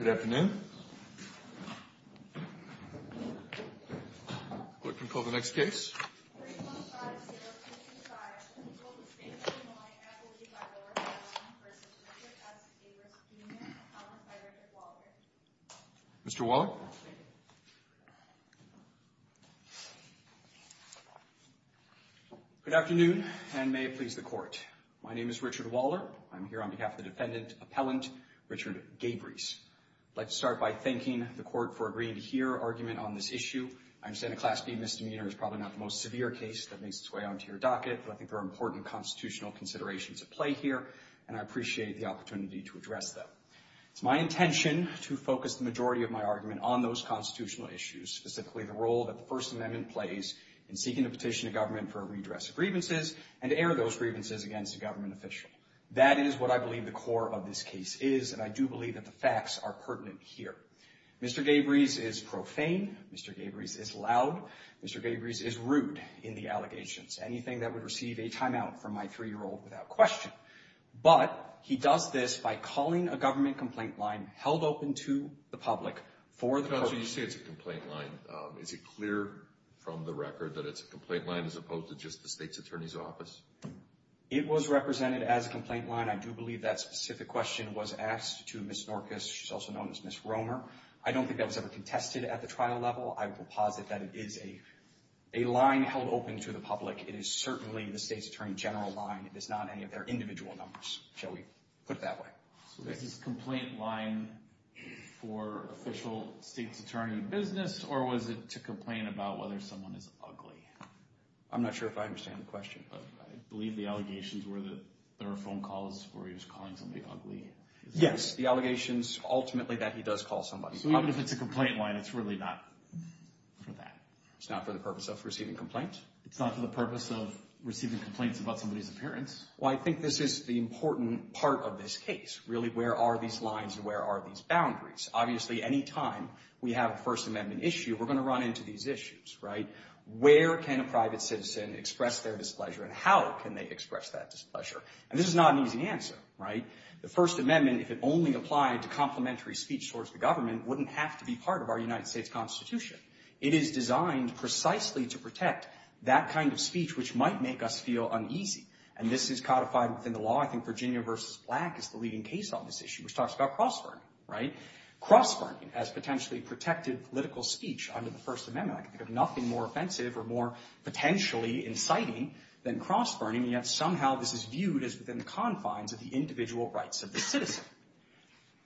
Good afternoon, and may it please the Court. My name is Richard Waller. I'm here on behalf of the defendant appellant, Richard Gabrys. I'd like to start by thanking the Court for agreeing to hear argument on this issue. I understand a Class B misdemeanor is probably not the most severe case that makes its way onto your docket, but I think there are important constitutional considerations at play here, and I appreciate the opportunity to address them. It's my intention to focus the majority of my argument on those constitutional issues, specifically the role that the First Amendment plays in seeking to petition a government for a redress of grievances, and to air those grievances against a government official. That is what I believe the core of this case is, and I do believe that the facts are pertinent here. Mr. Gabrys is profane, Mr. Gabrys is loud, Mr. Gabrys is rude in the allegations, anything that would receive a timeout from my three-year-old without question. But he does this by calling a government complaint line held open to the public for the purpose So you say it's a complaint line. Is it clear from the record that it's a complaint line as opposed to just the State's Attorney's Office? It was represented as a complaint line. I do believe that specific question was asked to Ms. Norquist, she's also known as Ms. Romer. I don't think that was ever contested at the trial level. I will posit that it is a line held open to the public. It is certainly the State's Attorney General line. It is not any of their individual numbers, shall we put it that way. So this is a complaint line for official State's Attorney business, or was it to complain about whether someone is ugly? I'm not sure if I understand the question, but I believe the allegations were that there were phone calls where he was calling somebody ugly. Yes, the allegations ultimately that he does call somebody. So even if it's a complaint line, it's really not for that. It's not for the purpose of receiving complaints? It's not for the purpose of receiving complaints about somebody's appearance. Well, I think this is the important part of this case. Really where are these lines and where are these boundaries? Obviously any time we have a First Amendment issue, we're going to run into these issues, right? Where can a private citizen express their displeasure and how can they express that displeasure? And this is not an easy answer, right? The First Amendment, if it only applied to complementary speech towards the government, wouldn't have to be part of our United States Constitution. It is designed precisely to protect that kind of speech which might make us feel uneasy. And this is codified within the law. I think Virginia v. Black is the leading case on this issue, which talks about cross-burning, right? Cross-burning as potentially protective political speech under the First Amendment, I can think of nothing more offensive or more potentially inciting than cross-burning, and yet somehow this is viewed as within the confines of the individual rights of the citizen.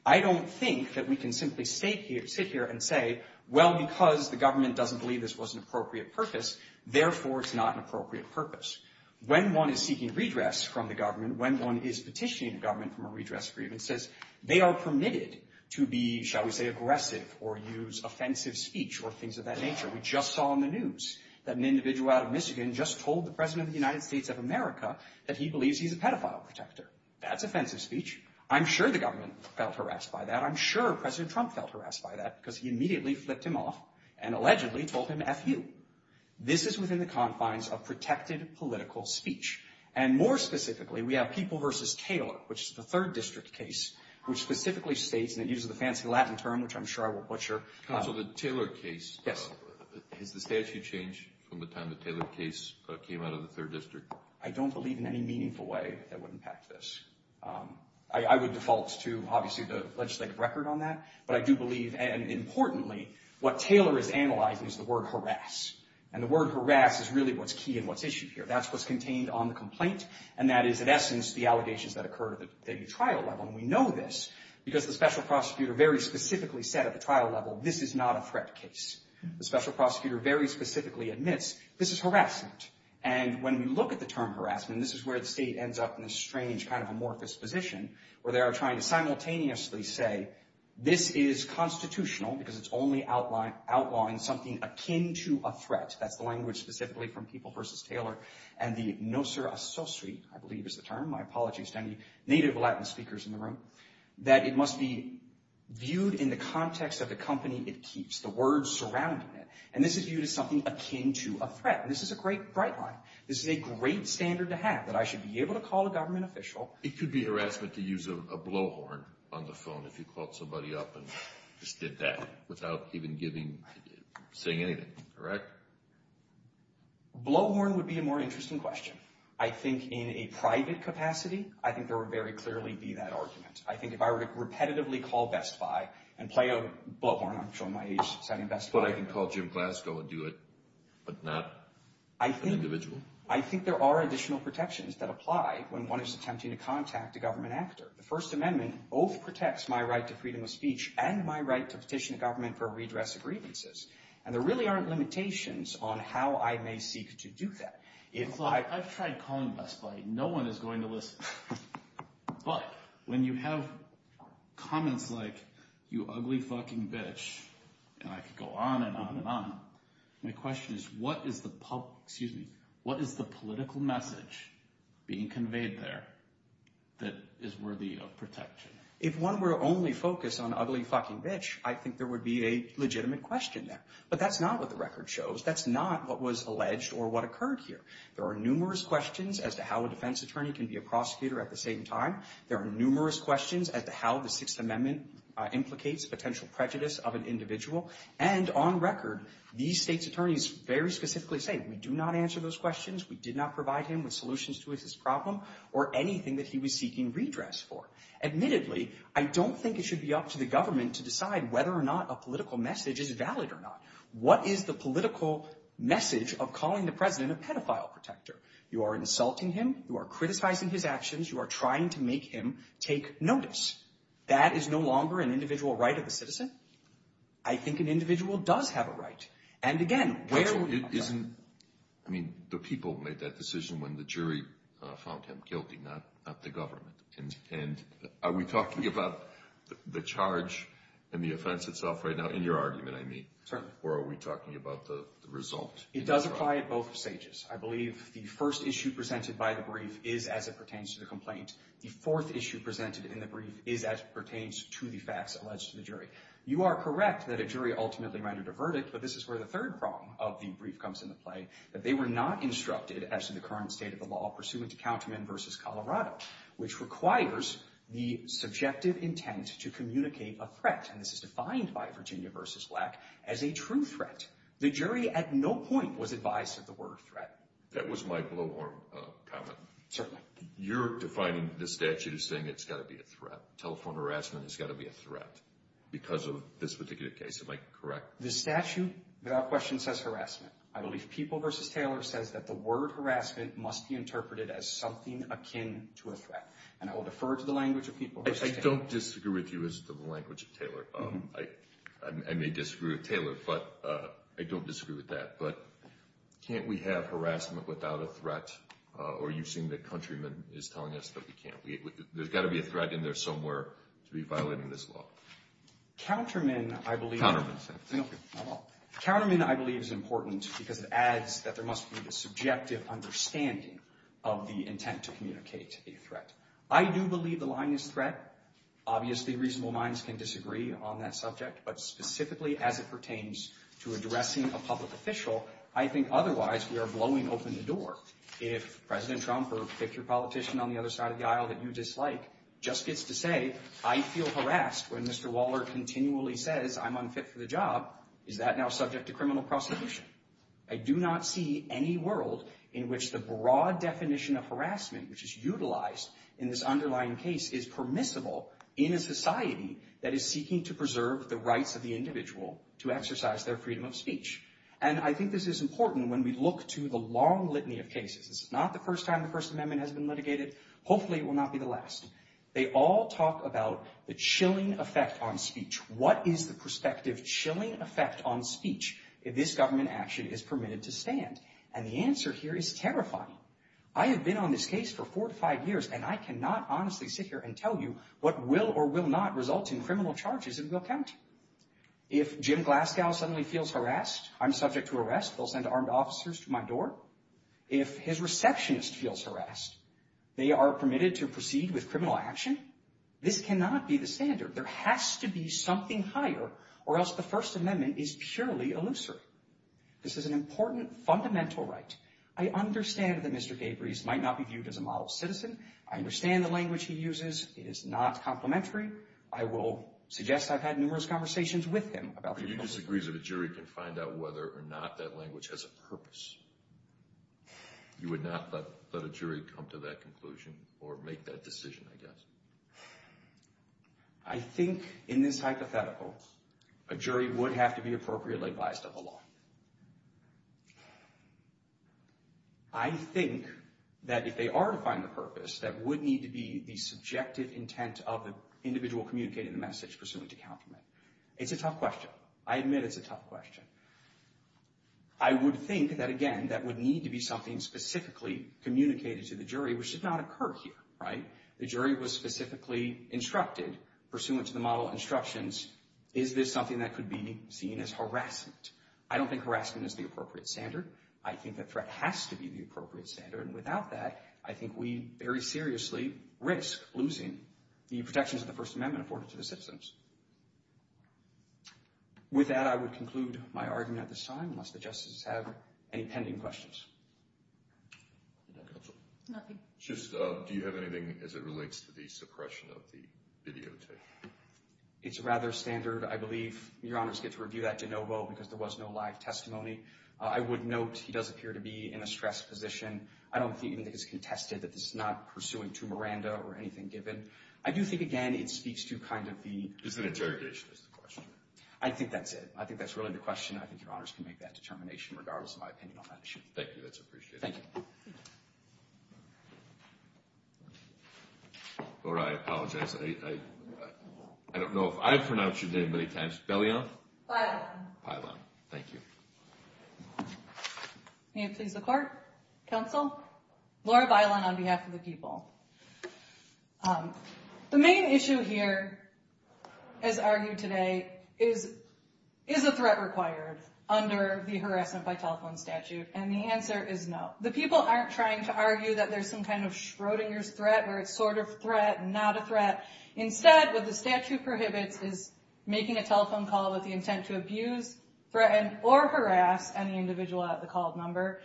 I don't think that we can simply sit here and say, well, because the government doesn't believe this was an appropriate purpose, therefore it's not an appropriate purpose. When one is seeking redress from the government, when one is petitioning the government from a redress agreement, says they are permitted to be, shall we say, aggressive or use offensive speech or things of that nature. We just saw on the news that an individual out of Michigan just told the President of the United States of America that he believes he's a pedophile protector. That's offensive speech. I'm sure the government felt harassed by that. I'm sure President Trump felt harassed by that because he immediately flipped him off and allegedly told him F you. This is within the confines of protected political speech. And more specifically, we have People v. Taylor, which is the 3rd District case, which specifically states, and it uses the fancy Latin term, which I'm sure I will butcher. Counsel, the Taylor case. Yes. Has the statute changed from the time the Taylor case came out of the 3rd District? I don't believe in any meaningful way that would impact this. I would default to, obviously, the legislative record on that, but I do believe, and importantly, what Taylor is analyzing is the word harass. And the word harass is really what's key and what's issued here. That's what's contained on the complaint. And that is, in essence, the allegations that occur at the trial level. And we know this because the special prosecutor very specifically said at the trial level, this is not a threat case. The special prosecutor very specifically admits, this is harassment. And when we look at the term harassment, this is where the state ends up in a strange kind of amorphous position, where they are trying to simultaneously say, this is constitutional because it's only outlawing something akin to a threat. That's the language specifically from People v. Taylor. And the nocer associi, I believe, is the term. My apologies to any native Latin speakers in the room. That it must be viewed in the context of the company it keeps, the words surrounding it. And this is viewed as something akin to a threat. And this is a great, bright line. This is a great standard to have, that I should be able to call a government official. It could be harassment to use a blow horn on the phone if you called somebody up and just did that without even giving, saying anything. Blow horn would be a more interesting question. I think in a private capacity, I think there would very clearly be that argument. I think if I were to repetitively call Best Buy and play a blow horn, I'm sure in my age setting, Best Buy. But I can call Jim Glasgow and do it, but not an individual. I think there are additional protections that apply when one is attempting to contact a government actor. The First Amendment both protects my right to freedom of speech and my right to petition a government for redress of grievances. And there really aren't limitations on how I may seek to do that. If I- I've tried calling Best Buy, no one is going to listen. But when you have comments like, you ugly fucking bitch, and I could go on and on and on. My question is, what is the public- excuse me. What is the political message being conveyed there that is worthy of protection? If one were to only focus on ugly fucking bitch, I think there would be a legitimate question there. But that's not what the record shows. That's not what was alleged or what occurred here. There are numerous questions as to how a defense attorney can be a prosecutor at the same time. There are numerous questions as to how the Sixth Amendment implicates potential prejudice of an individual. And on record, these states' attorneys very specifically say, we do not answer those questions. We did not provide him with solutions to his problem or anything that he was seeking redress for. Admittedly, I don't think it should be up to the government to decide whether or not a political message is valid or not. What is the political message of calling the president a pedophile protector? You are insulting him. You are criticizing his actions. You are trying to make him take notice. That is no longer an individual right of a citizen. I think an individual does have a right. And again, where will you find that? I mean, the people made that decision when the jury found him guilty, not the government. And are we talking about the charge and the offense itself right now in your argument, I mean? Certainly. Or are we talking about the result? It does apply at both stages. I believe the first issue presented by the brief is as it pertains to the complaint. The fourth issue presented in the brief is as it pertains to the facts alleged to the jury. You are correct that a jury ultimately rendered a verdict, but this is where the third prong of the brief comes into play, that they were not instructed, as in the current state of the law, pursuant to Counterman v. Colorado, which requires the subjective intent to communicate a threat. And this is defined by Virginia v. Black as a true threat. The jury at no point was advised of the word threat. That was my blowhorn comment. Certainly. You're defining the statute as saying it's got to be a threat. Telephone harassment has got to be a threat because of this particular case. Am I correct? The statute, without question, says harassment. I believe People v. Taylor says that the word harassment must be interpreted as something akin to a threat. And I will defer to the language of People v. Taylor. I don't disagree with you as to the language of Taylor. I may disagree with Taylor, but I don't disagree with that. But can't we have harassment without a threat? Or you seem that Countryman is telling us that we can't. There's got to be a threat in there somewhere to be violating this law. Counterman, I believe, is important because it adds that there must be a subjective understanding of the intent to communicate a threat. I do believe the line is threat. Obviously, reasonable minds can disagree on that subject. But specifically as it pertains to addressing a public official, I think otherwise we are blowing open the door. If President Trump or a picture politician on the other side of the aisle that you dislike just gets to say, I feel harassed when Mr. Waller continually says I'm unfit for the job, is that now subject to criminal prosecution? I do not see any world in which the broad definition of harassment, which is utilized in this underlying case, is permissible in a society that is seeking to preserve the rights of the individual to exercise their freedom of speech. And I think this is important when we look to the long litany of cases. This is not the first time the First Amendment has been litigated. Hopefully it will not be the last. They all talk about the chilling effect on speech. What is the prospective chilling effect on speech if this government action is permitted to stand? And the answer here is terrifying. I have been on this case for four to five years, and I cannot honestly sit here and tell you what will or will not result in criminal charges. It will count. If Jim Glasgow suddenly feels harassed, I'm subject to arrest. They'll send armed officers to my door. If his receptionist feels harassed, they are permitted to proceed with criminal action. This cannot be the standard. There has to be something higher or else the First Amendment is purely illusory. This is an important fundamental right. I understand that Mr. Gabries might not be viewed as a model citizen. I understand the language he uses is not complimentary. I will suggest I've had numerous conversations with him about this. You disagree that a jury can find out whether or not that language has a purpose. You would not let a jury come to that conclusion or make that decision, I guess. I think in this hypothetical, a jury would have to be appropriately advised of the law. I think that if they are to find the purpose, that would need to be the subjective intent of the individual communicating the message pursuant to countermeasure. It's a tough question. I admit it's a tough question. I would think that, again, that would need to be something specifically communicated to the jury, which did not occur here, right? The jury was specifically instructed, pursuant to the model instructions, is this something that could be seen as harassment? I don't think harassment is the appropriate standard. I think that threat has to be the appropriate standard. And without that, I think we very seriously risk losing the protections of the First Amendment afforded to the citizens. With that, I would conclude my argument at this time, unless the justices have any pending questions. Nothing. Just, do you have anything as it relates to the suppression of the videotape? It's rather standard, I believe. Your Honors get to review that de novo, because there was no live testimony. I would note he does appear to be in a stressed position. I don't think even that it's contested that this is not pursuing to Miranda or anything given. I do think, again, it speaks to kind of the... It's an interrogation, is the question. I think that's it. I think that's really the question. I think Your Honors can make that determination, regardless of my opinion on that issue. Thank you. That's appreciated. Thank you. Laura, I apologize. I don't know if I've pronounced your name many times. Bellion? Bailon. Bailon. Thank you. May it please the Court? Counsel? Laura Bailon on behalf of the people. The main issue here, as argued today, is a threat required under the Harassment by Telephone Statute. And the answer is no. The people aren't trying to argue that there's some kind of Schrodinger's threat, where it's sort of threat, not a threat. Instead, what the statute prohibits is making a telephone call with the intent to abuse, threaten, or harass any individual at the called number.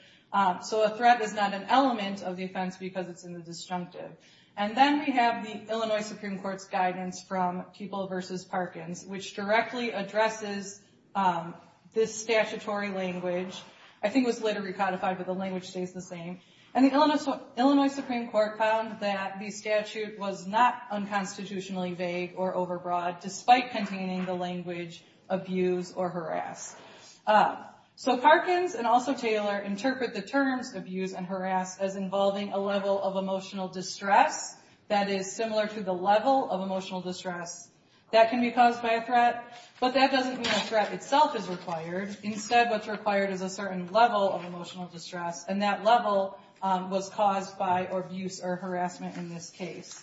So a threat is not an element of the offense, because it's in the disjunctive. And then we have the Illinois Supreme Court's guidance from Kuebel v. Parkins, which directly addresses this statutory language. I think it was later recodified, but the language stays the same. And the Illinois Supreme Court found that the statute was not unconstitutionally vague or overbroad, despite containing the language abuse or harass. So Parkins and also Taylor interpret the terms abuse and harass as involving a level of emotional distress that is similar to the level of emotional distress that can be caused by a threat. But that doesn't mean a threat itself is required. Instead, what's required is a certain level of emotional distress, and that level was caused by abuse or harassment in this case.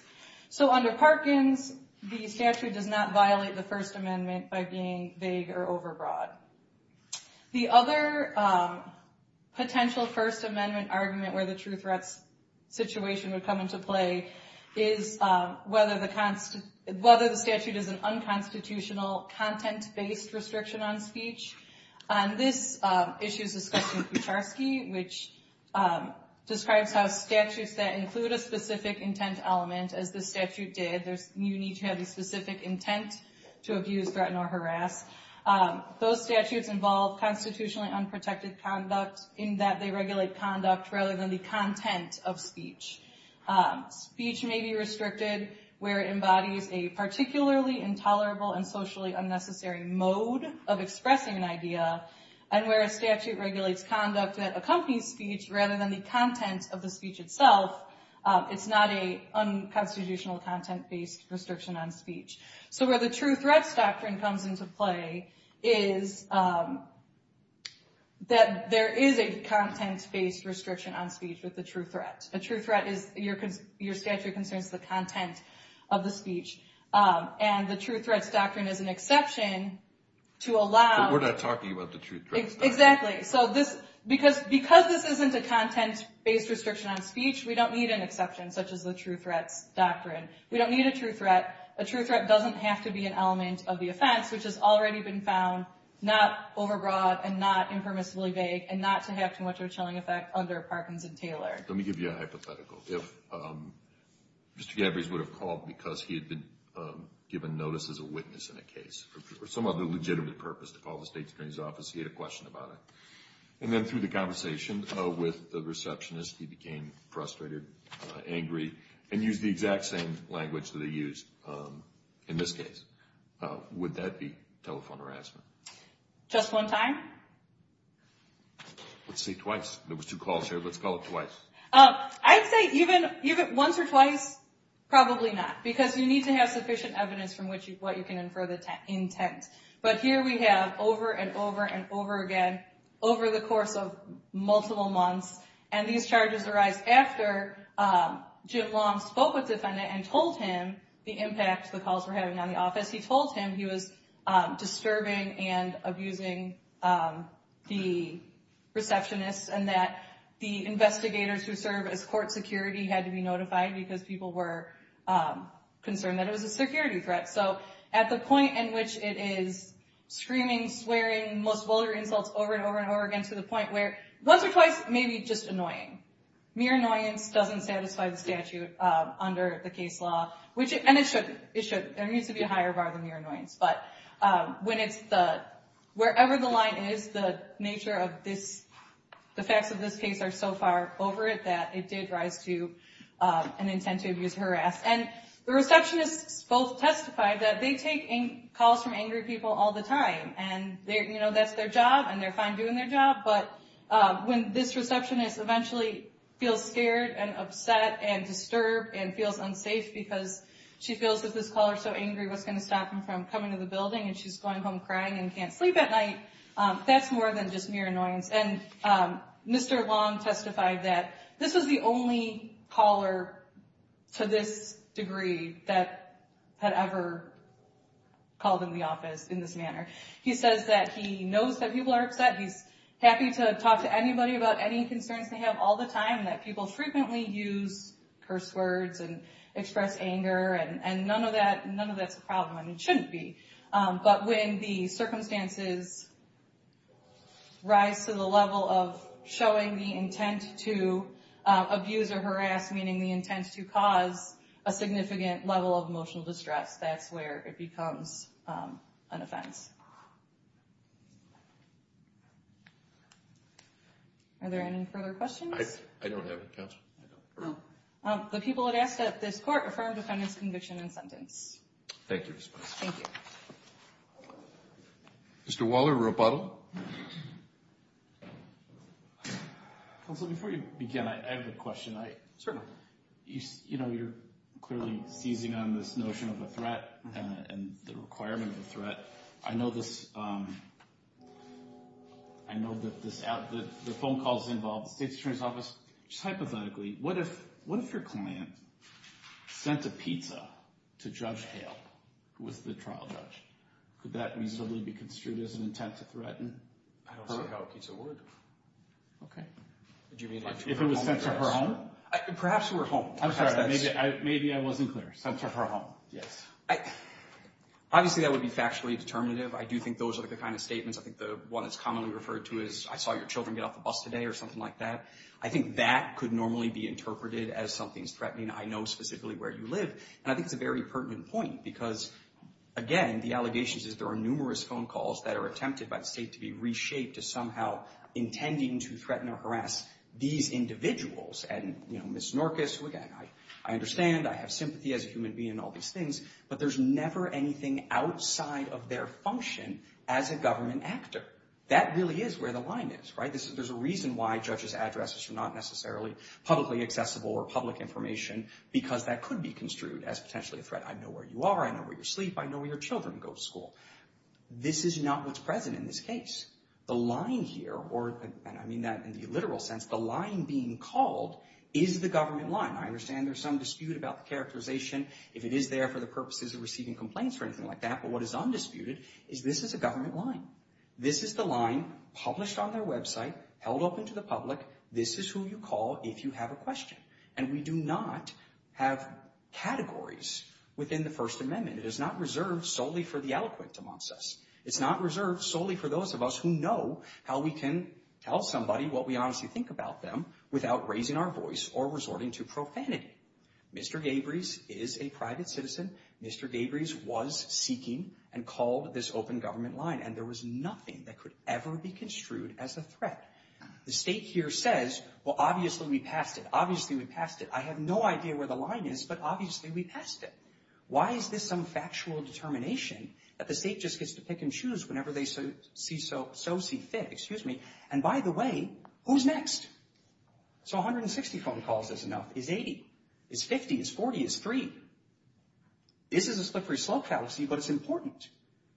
So under Parkins, the statute does not violate the First Amendment by being vague or overbroad. The other potential First Amendment argument where the true threats situation would come to play is whether the statute is an unconstitutional content-based restriction on speech. And this issue is discussed in Kucharski, which describes how statutes that include a specific intent element, as the statute did, you need to have a specific intent to abuse, threaten, or harass. Those statutes involve constitutionally unprotected conduct in that they regulate conduct rather than the content of speech. Speech may be restricted where it embodies a particularly intolerable and socially unnecessary mode of expressing an idea, and where a statute regulates conduct that accompanies speech rather than the content of the speech itself, it's not an unconstitutional content-based restriction on speech. So where the true threats doctrine comes into play is that there is a content-based restriction on speech with the true threat. A true threat is your statute concerns the content of the speech. And the true threats doctrine is an exception to allow... But we're not talking about the true threats doctrine. Exactly. So because this isn't a content-based restriction on speech, we don't need an exception such as the true threats doctrine. We don't need a true threat. A true threat doesn't have to be an element of the offense, which has already been found not overbroad and not impermissibly vague and not to have too much of a chilling effect under Parkinson-Taylor. Let me give you a hypothetical. If Mr. Gavries would have called because he had been given notice as a witness in a case for some other legitimate purpose to call the State's Attorney's Office, he had a question about it. And then through the conversation with the receptionist, he became frustrated, angry, and used the exact same language that he used in this case. Would that be telephone harassment? Just one time? Let's say twice. There were two calls here. Let's call it twice. I'd say even once or twice, probably not. Because you need to have sufficient evidence from what you can infer the intent. But here we have over and over and over again, over the course of multiple months, and these charges arise after Jim Long spoke with the defendant and told him the impact the calls were having on the office. He told him he was disturbing and abusing the receptionist and that the investigators who serve as court security had to be notified because people were concerned that it was a security threat. So at the point in which it is screaming, swearing, most vulgar insults over and over and over again to the point where once or twice, maybe just annoying. Mere annoyance doesn't satisfy the statute under the case law. And it shouldn't. There needs to be a higher bar than mere annoyance. But wherever the line is, the nature of this, the facts of this case are so far over it that it did rise to an intent to abuse, harass. And the receptionists both testified that they take calls from angry people all the time. And that's their job, and they're fine doing their job. But when this receptionist eventually feels scared and upset and disturbed and feels unsafe because she feels that this caller is so angry, what's going to stop him from coming to the building and she's going home crying and can't sleep at night, that's more than just mere annoyance. And Mr. Long testified that this was the only caller to this degree that had ever called in the office in this manner. He says that he knows that people are upset. He's happy to talk to anybody about any concerns they have all the time and that people frequently use curse words and express anger. And none of that's a problem. I mean, it shouldn't be. But when the circumstances rise to the level of showing the intent to abuse or harass, meaning the intent to cause a significant level of emotional distress, that's where it becomes an offense. Are there any further questions? I don't have any, Counsel. The people have asked that this Court affirm defendant's conviction and sentence. Thank you, Ms. Bynum. Thank you. Mr. Waller, rebuttal. Counsel, before you begin, I have a question. Certainly. You know, you're clearly seizing on this notion of a threat and the requirement of a threat. But I know that the phone calls involve the State's Attorney's Office. Just hypothetically, what if your client sent a pizza to Judge Hale, who was the trial judge? Could that reasonably be construed as an intent to threaten her? I don't see how a pizza would. Okay. If it was sent to her home? Perhaps to her home. I'm sorry. Maybe I wasn't clear. Sent to her home. Yes. Obviously, that would be factually determinative. I do think those are the kind of statements. I think the one that's commonly referred to is, I saw your children get off the bus today or something like that. I think that could normally be interpreted as something's threatening. I know specifically where you live. And I think it's a very pertinent point because, again, the allegations is there are numerous phone calls that are attempted by the State to be reshaped as somehow intending to threaten or harass these individuals. And, you know, Ms. Snorkis, who, again, I understand. I have sympathy as a human being and all these things. But there's never anything outside of their function as a government actor. That really is where the line is, right? There's a reason why judges' addresses are not necessarily publicly accessible or public information because that could be construed as potentially a threat. I know where you are. I know where you sleep. I know where your children go to school. This is not what's present in this case. The line here, and I mean that in the literal sense, the line being called is the government line. I understand there's some dispute about the characterization, if it is there for the purposes of receiving complaints or anything like that. But what is undisputed is this is a government line. This is the line published on their website, held open to the public. This is who you call if you have a question. And we do not have categories within the First Amendment. It is not reserved solely for the eloquent amongst us. It's not reserved solely for those of us who know how we can tell somebody what we honestly think about them without raising our voice or resorting to profanity. Mr. Gabries is a private citizen. Mr. Gabries was seeking and called this open government line, and there was nothing that could ever be construed as a threat. The state here says, well, obviously we passed it. Obviously we passed it. I have no idea where the line is, but obviously we passed it. Why is this some factual determination that the state just gets to pick and choose whenever they so see fit? And by the way, who's next? So 160 phone calls isn't enough. It's 80. It's 50. It's 40. It's 3. This is a slippery slope fallacy, but it's important.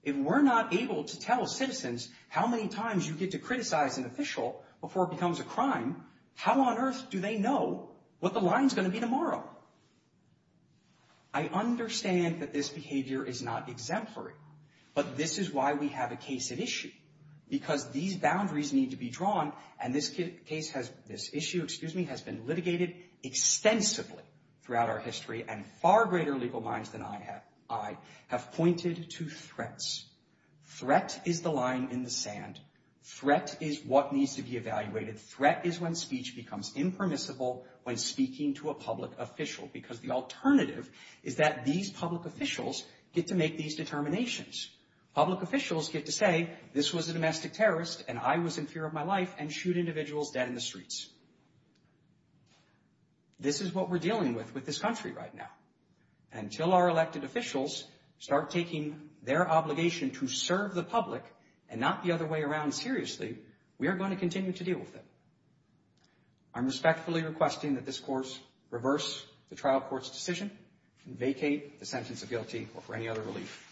If we're not able to tell citizens how many times you get to criticize an official before it becomes a crime, how on earth do they know what the line's going to be tomorrow? I understand that this behavior is not exemplary, but this is why we have a case at issue, because these boundaries need to be drawn, and this issue has been litigated extensively throughout our history, and far greater legal minds than I have pointed to threats. Threat is the line in the sand. Threat is what needs to be evaluated. Threat is when speech becomes impermissible when speaking to a public official, because the alternative is that these public officials get to make these determinations. Public officials get to say, this was a domestic terrorist, and I was in fear of my life, and shoot individuals dead in the streets. This is what we're dealing with with this country right now. Until our elected officials start taking their obligation to serve the public and not the other way around seriously, we are going to continue to deal with it. I'm respectfully requesting that this Court reverse the trial court's decision and vacate the sentence of guilty or for any other relief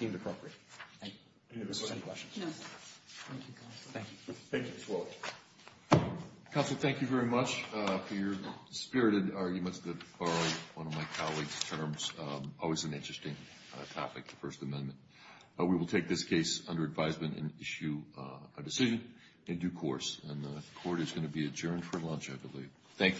deemed appropriate. Thank you. If this is any questions. No, sir. Thank you, counsel. Thank you. Thank you, Ms. Willett. Counsel, thank you very much for your spirited arguments that borrow one of my colleagues' terms. Always an interesting topic, the First Amendment. We will take this case under advisement and issue a decision in due course. And the Court is going to be adjourned for lunch, I believe. Thank you.